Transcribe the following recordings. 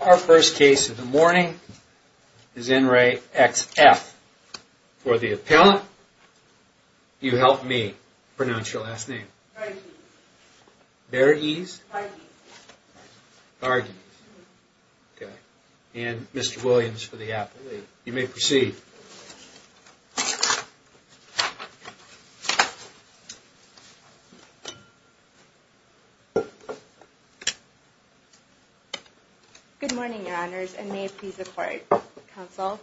Our first case of the morning is in re X.F. for the appellant. You help me pronounce your last name. Varghese. Varghese. Varghese. Okay. And Mr. Williams for the appellate. You may proceed. Good morning, your honors, and may it please the court, counsel.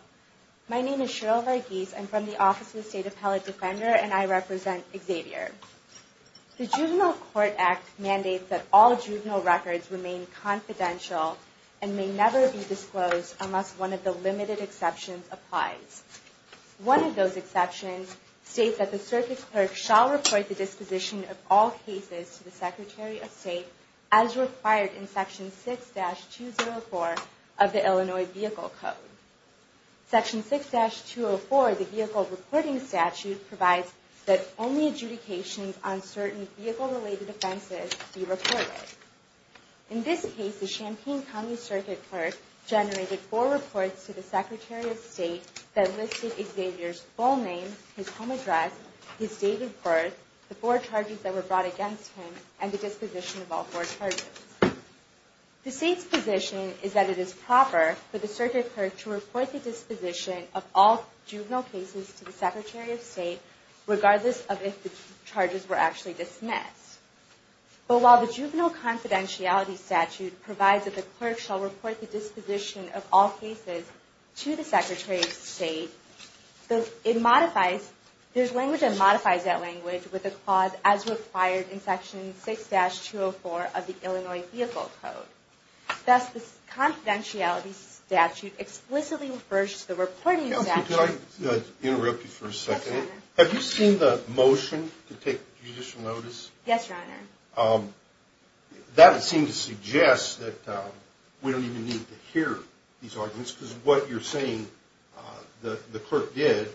My name is Cheryl Varghese. I'm from the Office of the State Appellate Defender, and I represent Xavier. The Juvenile Court Act mandates that all juvenile records remain confidential and may never be disclosed unless one of the limited exceptions applies. One of those exceptions states that the circuit clerk shall report the disposition of all cases to the Secretary of State as required in Section 6-204 of the Illinois Vehicle Code. Section 6-204 of the Vehicle Reporting Statute provides that only adjudications on certain vehicle-related offenses be reported. In this case, the Champaign County Circuit Clerk generated four reports to the Secretary of State that listed Xavier's full name, his home address, his date of birth, the four charges that were brought against him, and the disposition of all four charges. The State's position is that it is proper for the circuit clerk to report the disposition of all juvenile cases to the Secretary of State regardless of if the charges were actually dismissed. But while the Juvenile Confidentiality Statute provides that the clerk shall report the disposition of all cases to the Secretary of State, there's language that modifies that language with a clause, as required in Section 6-204 of the Illinois Vehicle Code. Thus, the Confidentiality Statute explicitly refers to the reporting statute. Can I interrupt you for a second? Yes, Your Honor. Have you seen the motion to take judicial notice? Yes, Your Honor. Because what you're saying the clerk did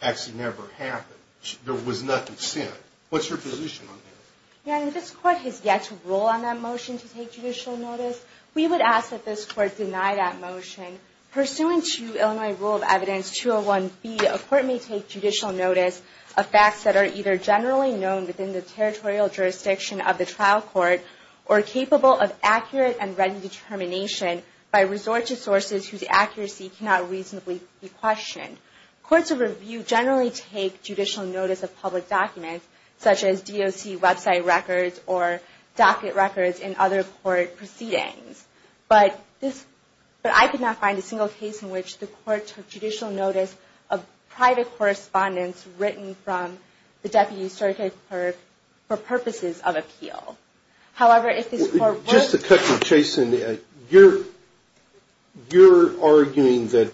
actually never happened. There was nothing sent. What's your position on that? Your Honor, this Court has yet to rule on that motion to take judicial notice. We would ask that this Court deny that motion. Pursuant to Illinois Rule of Evidence 201-B, a court may take judicial notice of facts that are either generally known within the territorial jurisdiction of the trial court or capable of accurate and ready determination by resources sources whose accuracy cannot reasonably be questioned. Courts of review generally take judicial notice of public documents such as DOC website records or docket records in other court proceedings. But I could not find a single case in which the court took judicial notice of private correspondence written from the deputy circuit clerk for purposes of appeal. However, if this Court were to take... Just a quick one, Jason. You're arguing that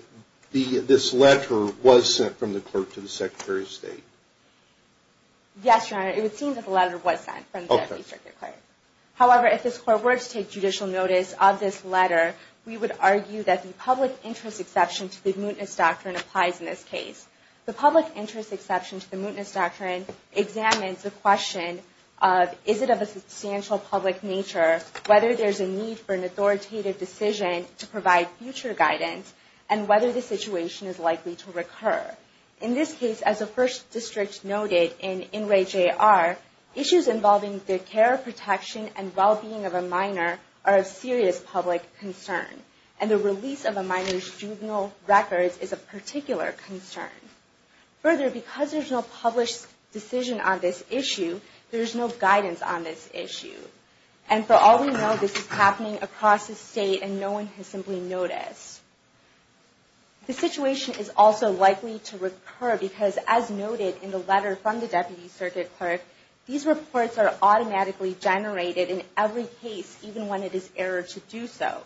this letter was sent from the clerk to the Secretary of State? Yes, Your Honor. It would seem that the letter was sent from the deputy circuit clerk. However, if this Court were to take judicial notice of this letter, we would argue that the public interest exception to the mootness doctrine applies in this case. The public interest exception to the mootness doctrine examines the question of is it of a substantial public nature whether there is a need for an authoritative decision to provide future guidance and whether the situation is likely to recur. In this case, as the First District noted in Inouye J.R., issues involving the care, protection, and well-being of a minor are of serious public concern and the release of a minor's juvenile records is of particular concern. Further, because there is no published decision on this issue, there is no guidance on this issue. And for all we know, this is happening across the state and no one has simply noticed. The situation is also likely to recur because, as noted in the letter from the deputy circuit clerk, these reports are automatically generated in every case, even when it is errored to do so.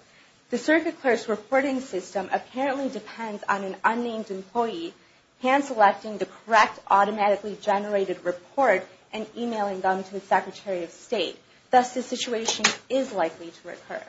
The circuit clerk's reporting system apparently depends on an unnamed employee hand-selecting the correct automatically generated report and emailing them to the Secretary of State. Thus, the situation is likely to recur.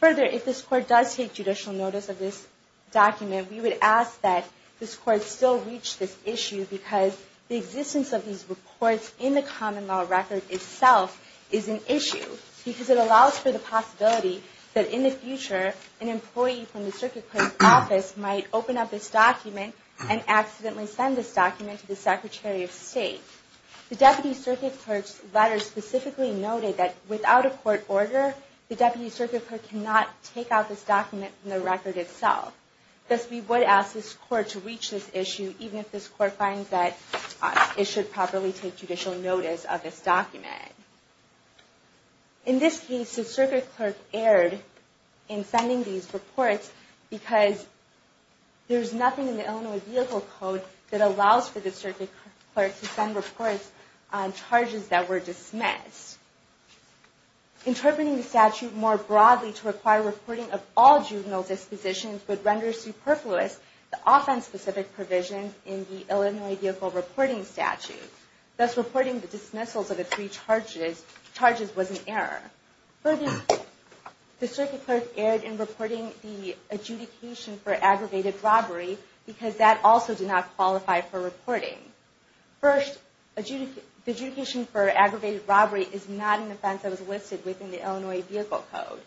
Further, if this Court does take judicial notice of this document, we would ask that this Court still reach this issue because the existence of these reports in the common law record itself is an issue because it allows for the possibility that in the future, an employee from the circuit clerk's office might open up this document and accidentally send this document to the Secretary of State. The deputy circuit clerk's letter specifically noted that without a court order, the deputy circuit clerk cannot take out this document from the record itself. Thus, we would ask this Court to reach this issue even if this Court finds that it should properly take judicial notice of this document. In this case, the circuit clerk erred in sending these reports because there is nothing in the Illinois Vehicle Code that allows for the circuit clerk to send reports on charges that were dismissed. Interpreting the statute more broadly to require reporting of all juvenile dispositions would render superfluous the offense-specific provisions in the Illinois Vehicle Reporting Statute. Thus, reporting the dismissals of the three charges was an error. Further, the circuit clerk erred in reporting the adjudication for aggravated robbery because that also did not qualify for reporting. First, the adjudication for aggravated robbery is not an offense that was listed within the Illinois Vehicle Code.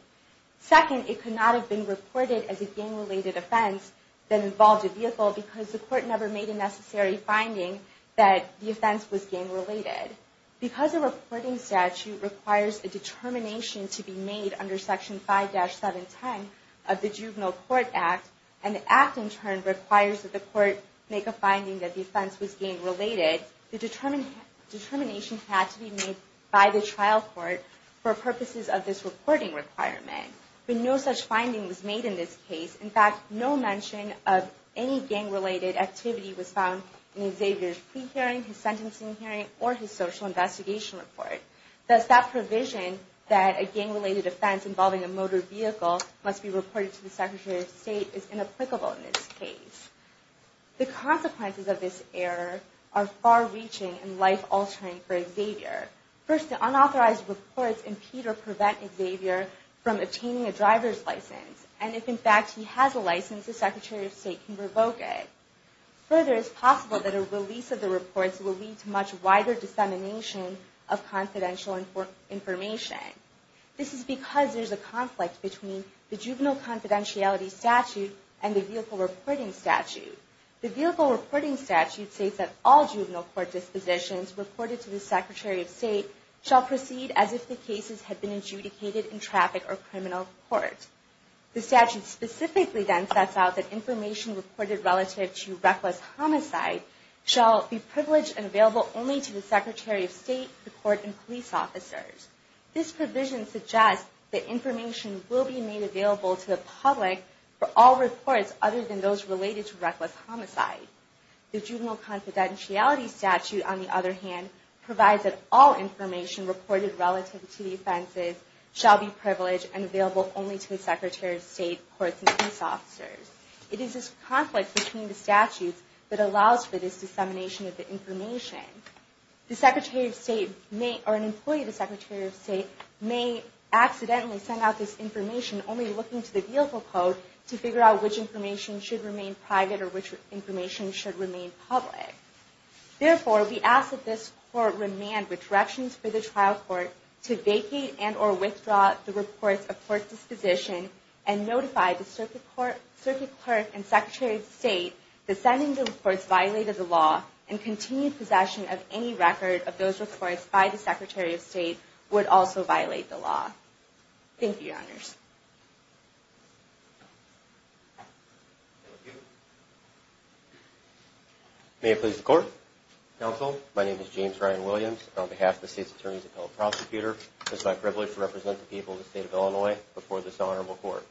Second, it could not have been reported as a gang-related offense that involved a vehicle because the Court never made a necessary finding that the offense was gang-related. Because a reporting statute requires a determination to be made under Section 5-710 of the Juvenile Court Act, and the Act, in turn, requires that the Court make a finding that the offense was gang-related, the determination had to be made by the trial court for purposes of this reporting requirement. But no such finding was made in this case. In fact, no mention of any gang-related activity was found in Xavier's plea hearing, his sentencing hearing, or his social investigation report. Thus, that provision that a gang-related offense involving a motor vehicle must be reported to the Secretary of State is inapplicable in this case. The consequences of this error are far-reaching and life-altering for Xavier. First, the unauthorized reports impede or prevent Xavier from obtaining a driver's license. And if, in fact, he has a license, the Secretary of State can revoke it. Further, it is possible that a release of the reports will lead to much wider dissemination of confidential information. This is because there is a conflict between the Juvenile Confidentiality Statute and the Vehicle Reporting Statute. The Vehicle Reporting Statute states that all juvenile court dispositions reported to the Secretary of State shall proceed as if the cases had been adjudicated in traffic or criminal court. The statute specifically then sets out that information reported relative to reckless homicide shall be privileged and available only to the Secretary of State, the court, and police officers. This provision suggests that information will be made available to the public for all reports other than those related to reckless homicide. The Juvenile Confidentiality Statute, on the other hand, provides that all information reported relative to the offenses shall be privileged and available only to the Secretary of State, courts, and police officers. It is this conflict between the statutes that allows for this dissemination of the information. An employee of the Secretary of State may accidentally send out this information only looking to the vehicle code to figure out which information should remain private or which information should remain public. Therefore, we ask that this court remand with directions for the trial court to vacate and or withdraw the reports of court disposition and notify the Circuit Clerk and Secretary of State that sending the reports violated the law and continued possession of any record of those reports by the Secretary of State would also violate the law. Thank you, Your Honors. May it please the Court. Counsel, my name is James Ryan Williams. On behalf of the State's Attorneys Appellate Prosecutor, it is my privilege to represent the people of the State of Illinois before this Honorable Court.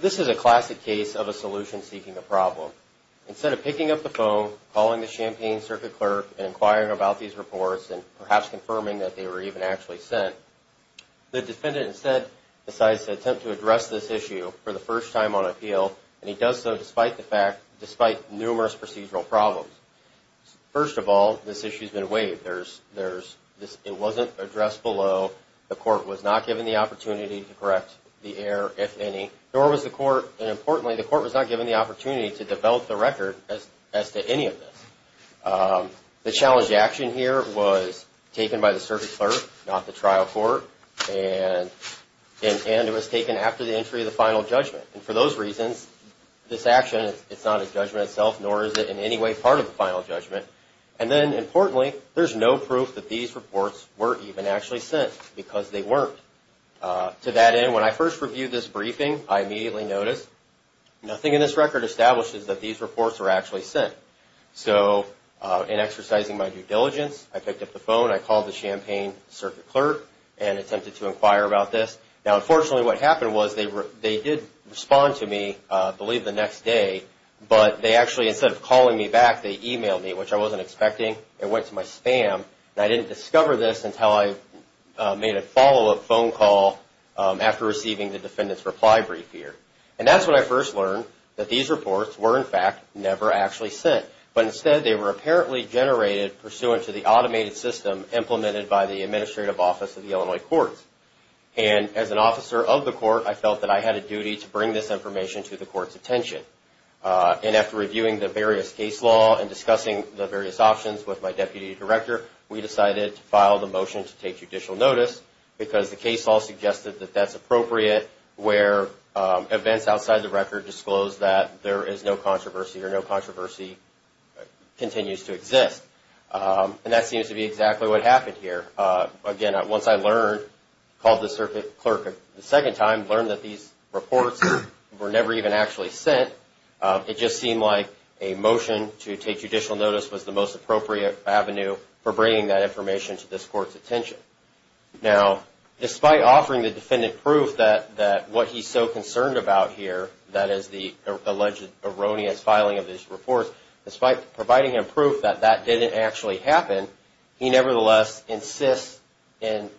This is a classic case of a solution seeking a problem. Instead of picking up the phone, calling the Champaign Circuit Clerk and inquiring about these reports and perhaps confirming that they were even actually sent, the defendant instead decides to attempt to address this issue for the first time on appeal and he does so despite numerous procedural problems. First of all, this issue has been waived. It wasn't addressed below. The court was not given the opportunity to correct the error, if any. And importantly, the court was not given the opportunity to develop the record as to any of this. The challenge to action here was taken by the Circuit Clerk, not the trial court, and it was taken after the entry of the final judgment. And for those reasons, this action, it's not a judgment itself, nor is it in any way part of the final judgment. And then importantly, there's no proof that these reports were even actually sent because they weren't. To that end, when I first reviewed this briefing, I immediately noticed nothing in this record establishes that these reports were actually sent. So in exercising my due diligence, I picked up the phone, I called the Champaign Circuit Clerk and attempted to inquire about this. Now, unfortunately, what happened was they did respond to me, I believe the next day, but they actually, instead of calling me back, they emailed me, which I wasn't expecting. It went to my spam, and I didn't discover this until I made a follow-up phone call after receiving the defendant's reply brief here. And that's when I first learned that these reports were, in fact, never actually sent. But instead, they were apparently generated pursuant to the automated system implemented by the Administrative Office of the Illinois Courts. And as an officer of the court, I felt that I had a duty to bring this information to the court's attention. And after reviewing the various case law and discussing the various options with my Deputy Director, we decided to file the motion to take judicial notice because the case law suggested that that's appropriate where events outside the record disclose that there is no controversy or no controversy continues to exist. And that seems to be exactly what happened here. Again, once I learned, called the Circuit Clerk a second time, learned that these reports were never even actually sent, it just seemed like a motion to take judicial notice was the most appropriate avenue for bringing that information to this court's attention. Now, despite offering the defendant proof that what he's so concerned about here, that is the alleged erroneous filing of these reports, despite providing him proof that that didn't actually happen, he nevertheless insists in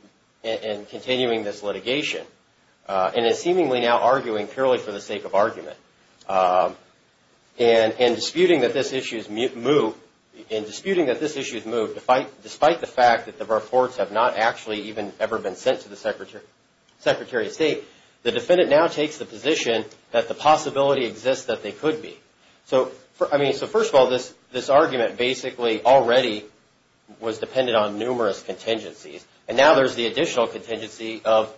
continuing this litigation and is seemingly now arguing purely for the sake of argument. And in disputing that this issue is moved, despite the fact that the reports have not actually even ever been sent to the Secretary of State, the defendant now takes the position that the possibility exists that they could be. So, I mean, so first of all, this argument basically already was dependent on numerous contingencies. And now there's the additional contingency of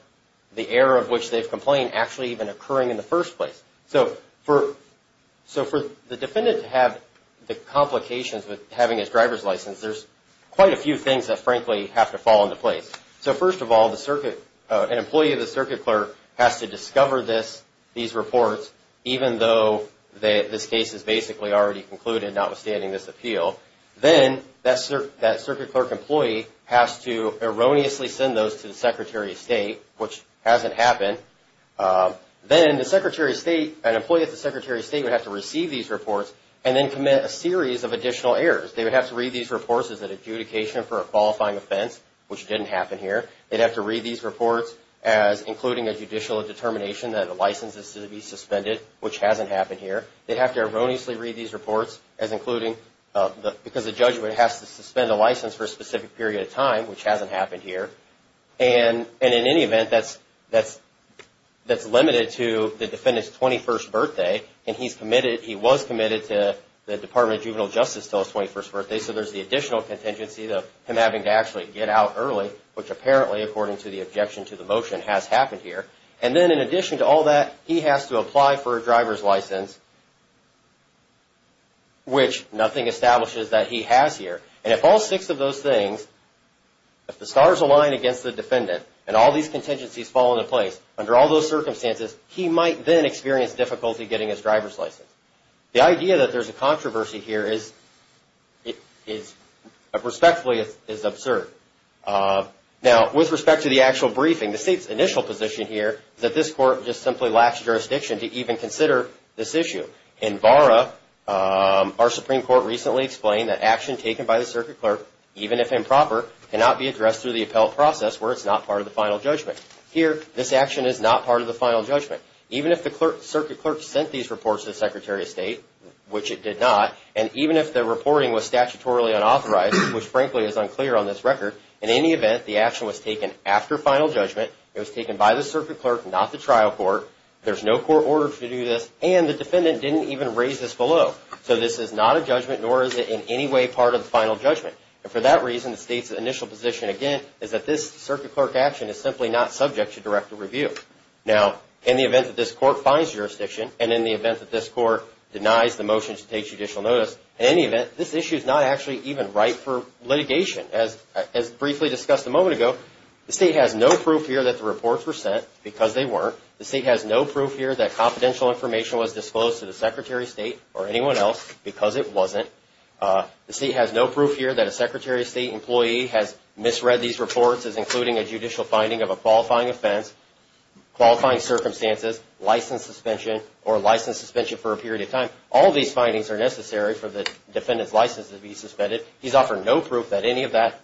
the error of which they've complained actually even occurring in the first place. So for the defendant to have the complications with having his driver's license, there's quite a few things that, frankly, have to fall into place. So first of all, an employee of the Circuit Clerk has to discover these reports, even though this case is basically already concluded, notwithstanding this appeal. Then that Circuit Clerk employee has to erroneously send those to the Secretary of State, which hasn't happened. Then the Secretary of State, an employee of the Secretary of State would have to receive these reports and then commit a series of additional errors. They would have to read these reports as an adjudication for a qualifying offense, which didn't happen here. They'd have to read these reports as including a judicial determination that the license is to be suspended, which hasn't happened here. They'd have to erroneously read these reports as including, because the judge would have to suspend a license for a specific period of time, which hasn't happened here. And in any event, that's limited to the defendant's 21st birthday, and he was committed to the Department of Juvenile Justice until his 21st birthday. So there's the additional contingency of him having to actually get out early, which apparently, according to the objection to the motion, has happened here. And then in addition to all that, he has to apply for a driver's license, which nothing establishes that he has here. And if all six of those things, if the stars align against the defendant and all these contingencies fall into place, under all those circumstances, he might then experience difficulty getting his driver's license. The idea that there's a controversy here is, respectfully, is absurd. Now, with respect to the actual briefing, the state's initial position here is that this court just simply lacks jurisdiction to even consider this issue. In VARA, our Supreme Court recently explained that action taken by the circuit clerk, even if improper, cannot be addressed through the appellate process where it's not part of the final judgment. Here, this action is not part of the final judgment. Even if the circuit clerk sent these reports to the Secretary of State, which it did not, and even if the reporting was statutorily unauthorized, which frankly is unclear on this record, in any event, the action was taken after final judgment. It was taken by the circuit clerk, not the trial court. There's no court order to do this, and the defendant didn't even raise this below. So this is not a judgment, nor is it in any way part of the final judgment. And for that reason, the state's initial position, again, is that this circuit clerk action is simply not subject to direct review. Now, in the event that this court finds jurisdiction, and in the event that this court denies the motion to take judicial notice, in any event, this issue is not actually even ripe for litigation. As briefly discussed a moment ago, the state has no proof here that the reports were sent because they weren't. The state has no proof here that confidential information was disclosed to the Secretary of State or anyone else because it wasn't. The state has no proof here that a Secretary of State employee has misread these reports as including a judicial finding of a qualifying offense. Qualifying circumstances, license suspension, or license suspension for a period of time. All of these findings are necessary for the defendant's license to be suspended. He's offered no proof that any of that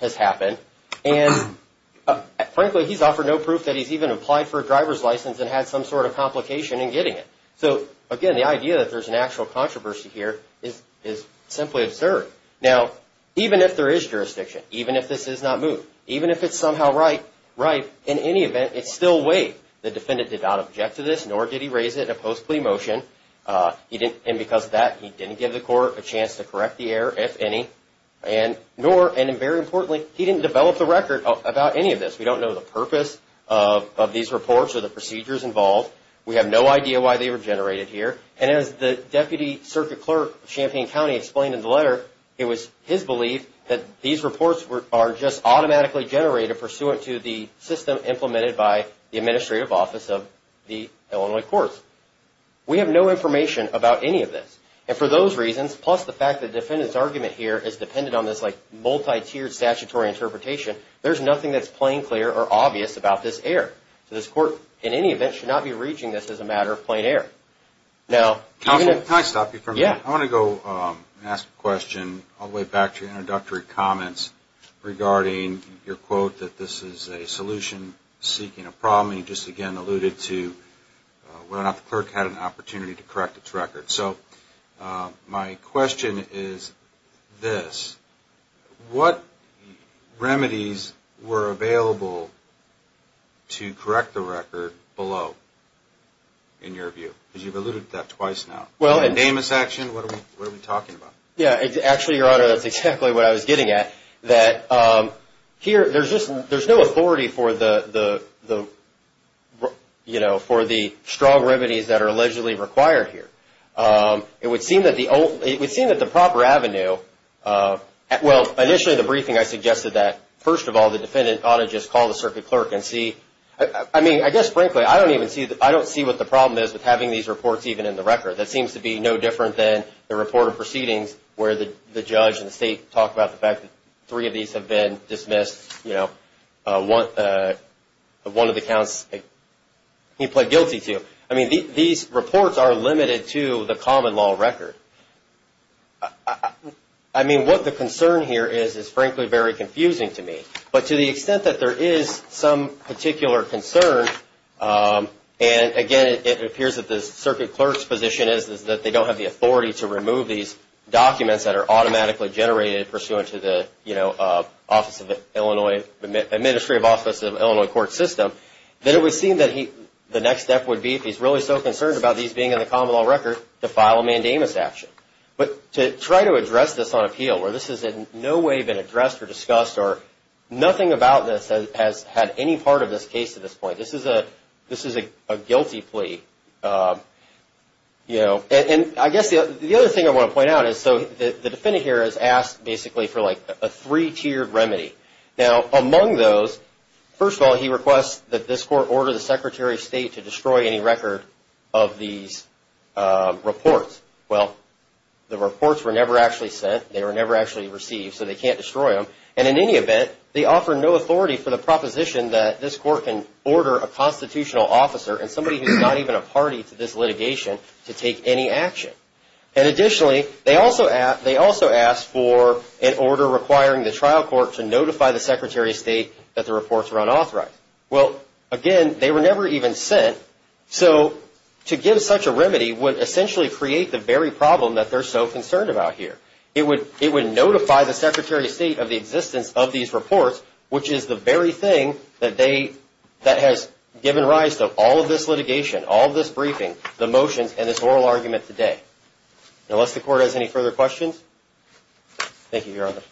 has happened. And frankly, he's offered no proof that he's even applied for a driver's license and had some sort of complication in getting it. So again, the idea that there's an actual controversy here is simply absurd. Now, even if there is jurisdiction, even if this is not moved, even if it's somehow ripe, in any event, it's still weight. The defendant did not object to this, nor did he raise it in a post-plea motion. And because of that, he didn't give the court a chance to correct the error, if any. And very importantly, he didn't develop the record about any of this. We don't know the purpose of these reports or the procedures involved. We have no idea why they were generated here. And as the Deputy Circuit Clerk of Champaign County explained in the letter, it was his belief that these reports are just automatically generated pursuant to the system implemented by the Administrative Office of the Illinois Courts. We have no information about any of this. And for those reasons, plus the fact that the defendant's argument here is dependent on this, like, multi-tiered statutory interpretation, there's nothing that's plain, clear, or obvious about this error. So this court, in any event, should not be reaching this as a matter of plain error. Now, can I stop you for a minute? I want to go ask a question all the way back to your introductory comments regarding your quote that this is a solution seeking a problem. And you just again alluded to whether or not the clerk had an opportunity to correct its record. So my question is this. What remedies were available to correct the record below, in your view? Because you've alluded to that twice now. Namus action? What are we talking about? Yeah. Actually, Your Honor, that's exactly what I was getting at. That here, there's no authority for the strong remedies that are allegedly required here. It would seem that the proper avenue, well, initially, the briefing I suggested that, first of all, the defendant ought to just call the circuit clerk and see. I mean, I guess, frankly, I don't see what the problem is with having these reports even in the record. That seems to be no different than the report of proceedings where the judge and the state talk about the fact that three of these have been dismissed. You know, one of the counts he pled guilty to. I mean, these reports are limited to the common law record. I mean, what the concern here is, is, frankly, very confusing to me. But to the extent that there is some particular concern, and, again, it appears that the circuit clerk's position is that they don't have the authority to remove these documents that are automatically generated pursuant to the office of Illinois, the Ministry of Office of Illinois Court System, then it would seem that the next step would be, if he's really so concerned about these being in the common law record, to file a mandamus action. But to try to address this on appeal, where this has in no way been addressed or discussed or nothing about this has had any part of this case to this point, this is a guilty plea. You know, and I guess the other thing I want to point out is, so, the defendant here has asked, basically, for, like, a three-tiered remedy. Now, among those, first of all, he requests that this court order the Secretary of State to destroy any record of these reports. Well, the reports were never actually sent. They were never actually received, so they can't destroy them. And, in any event, they offer no authority for the proposition that this court can order a constitutional officer and somebody who's not even a party to this litigation to take any action. And, additionally, they also ask for an order requiring the trial court to notify the Secretary of State that the reports were unauthorized. Well, again, they were never even sent. So, to give such a remedy would essentially create the very problem that they're so concerned about here. It would notify the Secretary of State of the existence of these reports, which is the very thing that has given rise to all of this litigation, all of this briefing, the motions, and this oral argument today. Unless the court has any further questions. Thank you, Your Honor.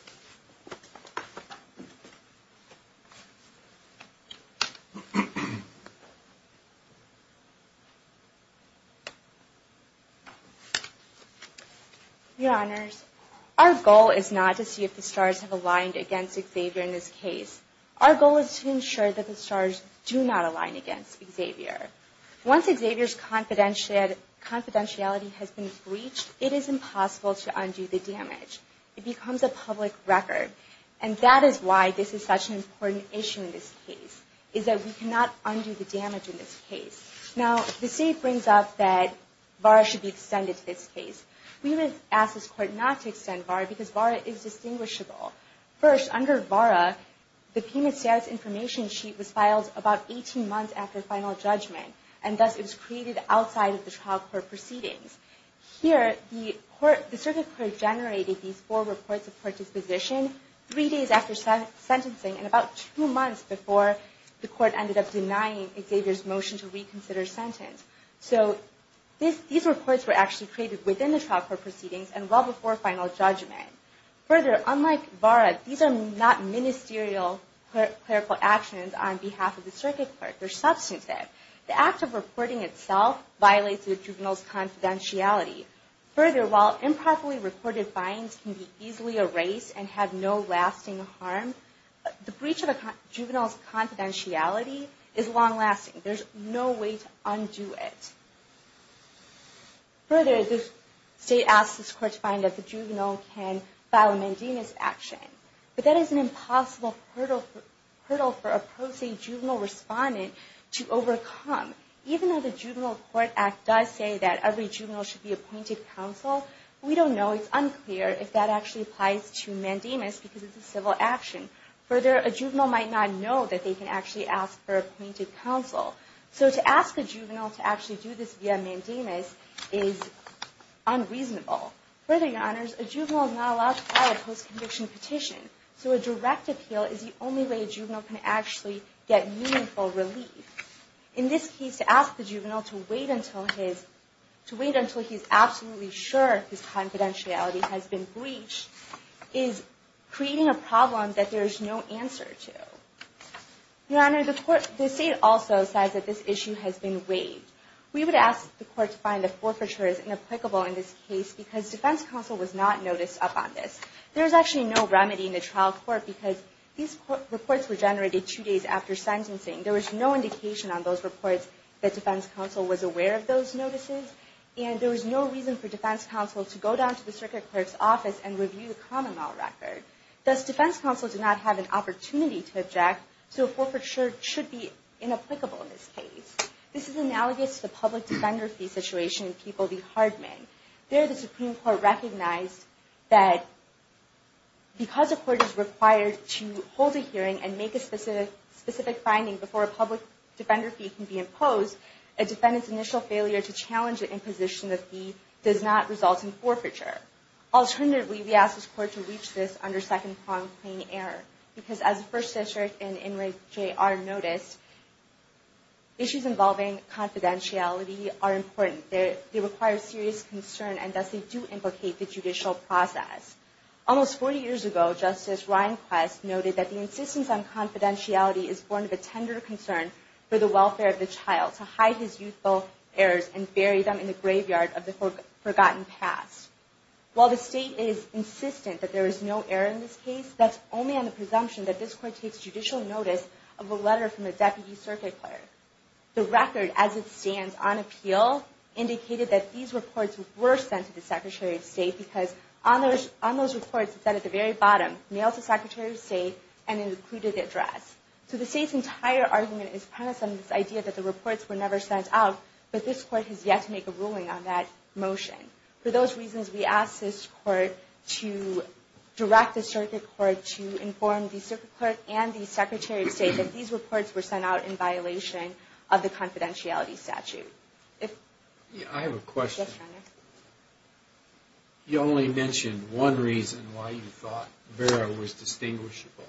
Your Honors, our goal is not to see if the stars have aligned against Xavier in this case. Our goal is to ensure that the stars do not align against Xavier. Once Xavier's confidentiality has been breached, it is impossible to undo the damage. It becomes a public record. And that is why this is such an important issue in this case, is that we cannot undo the damage in this case. Now, the State brings up that VARA should be extended to this case. We would ask this court not to extend VARA because VARA is distinguishable. First, under VARA, the payment status information sheet was filed about 18 months after final judgment. And thus, it was created outside of the trial court proceedings. Here, the circuit court generated these four reports of court disposition three days after sentencing and about two months before the court ended up denying Xavier's motion to reconsider sentence. So, these reports were actually created within the trial court proceedings and well before final judgment. Further, unlike VARA, these are not ministerial clerical actions on behalf of the circuit court. They're substantive. The act of reporting itself violates the juvenile's confidentiality. Further, while improperly reported fines can be easily erased and have no lasting harm, the breach of a juvenile's confidentiality is long-lasting. There's no way to undo it. Further, the State asks this court to find that the juvenile can file a mandamus action. But that is an impossible hurdle for a pro se juvenile respondent to overcome. Even though the Juvenile Court Act does say that every juvenile should be appointed counsel, we don't know. It's unclear if that actually applies to mandamus because it's a civil action. Further, a juvenile might not know that they can actually ask for appointed counsel. So, to ask a juvenile to actually do this via mandamus is unreasonable. Further, Your Honors, a juvenile is not allowed to file a post-conviction petition. So, a direct appeal is the only way a juvenile can actually get meaningful relief. In this case, to ask the juvenile to wait until he's absolutely sure his confidentiality has been breached is creating a problem that there is no answer to. Your Honor, the State also says that this issue has been waived. We would ask the Court to find that forfeiture is inapplicable in this case because Defense Counsel was not noticed upon this. There is actually no remedy in the trial court because these reports were generated two days after sentencing. There was no indication on those reports that Defense Counsel was aware of those notices. And there was no reason for Defense Counsel to go down to the Circuit Clerk's office and review the common law record. Thus, Defense Counsel did not have an opportunity to object. So, forfeiture should be inapplicable in this case. This is analogous to the public defender fee situation in People v. Hardman. There, the Supreme Court recognized that because a court is required to hold a hearing and make a specific finding before a public defender fee can be imposed, a defendant's initial failure to challenge the imposition of the fee does not result in forfeiture. Alternatively, we ask this Court to reach this under second-pronged claim error. Because as the First District and Inmate J.R. noticed, issues involving confidentiality are important. They require serious concern and thus they do implicate the judicial process. Almost 40 years ago, Justice Ryan Quest noted that the insistence on confidentiality is born of a tender concern for the welfare of the child to hide his youthful errors and bury them in the graveyard of the forgotten past. While the State is insistent that there is no error in this case, that's only on the presumption that this Court takes judicial notice of a letter from a Deputy Circuit Clerk. The record, as it stands on appeal, indicated that these reports were sent to the Secretary of State because on those reports, it said at the very bottom, mail to Secretary of State and included the address. So the State's entire argument is premised on this idea that the reports were never sent out, but this Court has yet to make a ruling on that motion. For those reasons, we ask this Court to direct the Circuit Court to inform the Circuit Clerk and the Secretary of State that these reports were sent out in violation of the confidentiality statute. I have a question. Yes, Your Honor. You only mentioned one reason why you thought Vera was distinguishable.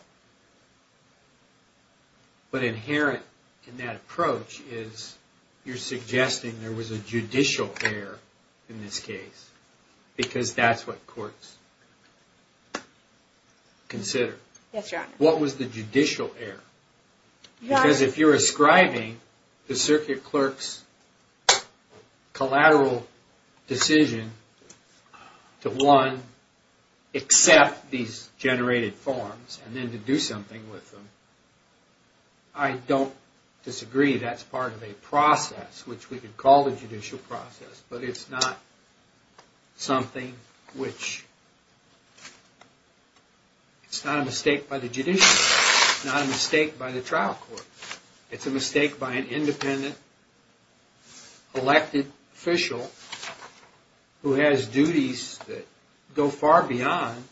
But inherent in that approach is you're suggesting there was a judicial error in this case because that's what courts consider. Yes, Your Honor. What was the judicial error? Because if you're ascribing the Circuit Clerk's collateral decision to one, accept these generated forms, and then to do something with them, I don't disagree that's part of a process, which we could call the judicial process, but it's not something which... It's not a mistake by the judiciary. It's not a mistake by the trial court. It's a mistake by an independent elected official who has duties that go far beyond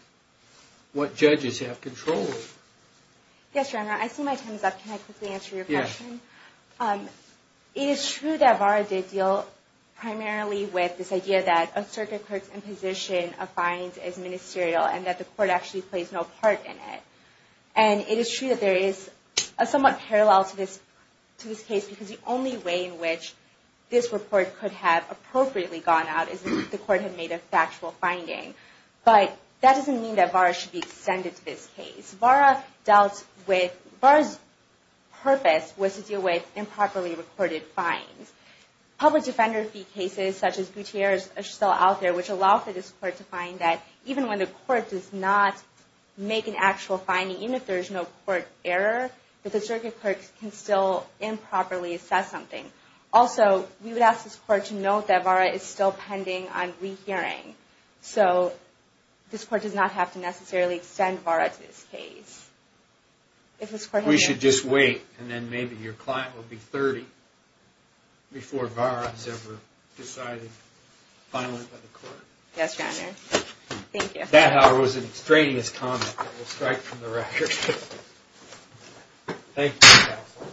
what judges have control of. Yes, Your Honor. I see my time is up. Can I quickly answer your question? Yes. It is true that Vera did deal primarily with this idea that a Circuit Clerk's imposition of fines is ministerial and that the Court actually plays no part in it. And it is true that there is a somewhat parallel to this case because the only way in which this report could have appropriately gone out is if the Court had made a factual finding. But that doesn't mean that VARA should be extended to this case. VARA dealt with... VARA's purpose was to deal with improperly recorded fines. Public defender fee cases such as Gutierrez are still out there, which allow for this Court to find that even when the Court does not make an actual finding, even if there is no Court error, that the Circuit Clerk can still improperly assess something. Also, we would ask this Court to note that VARA is still pending on rehearing. So this Court does not have to necessarily extend VARA to this case. We should just wait and then maybe your client will be 30 before VARA is ever decided finally by the Court. Yes, Your Honor. Thank you. That, however, was a strenuous comment that will strike from the record. Thank you, counsel.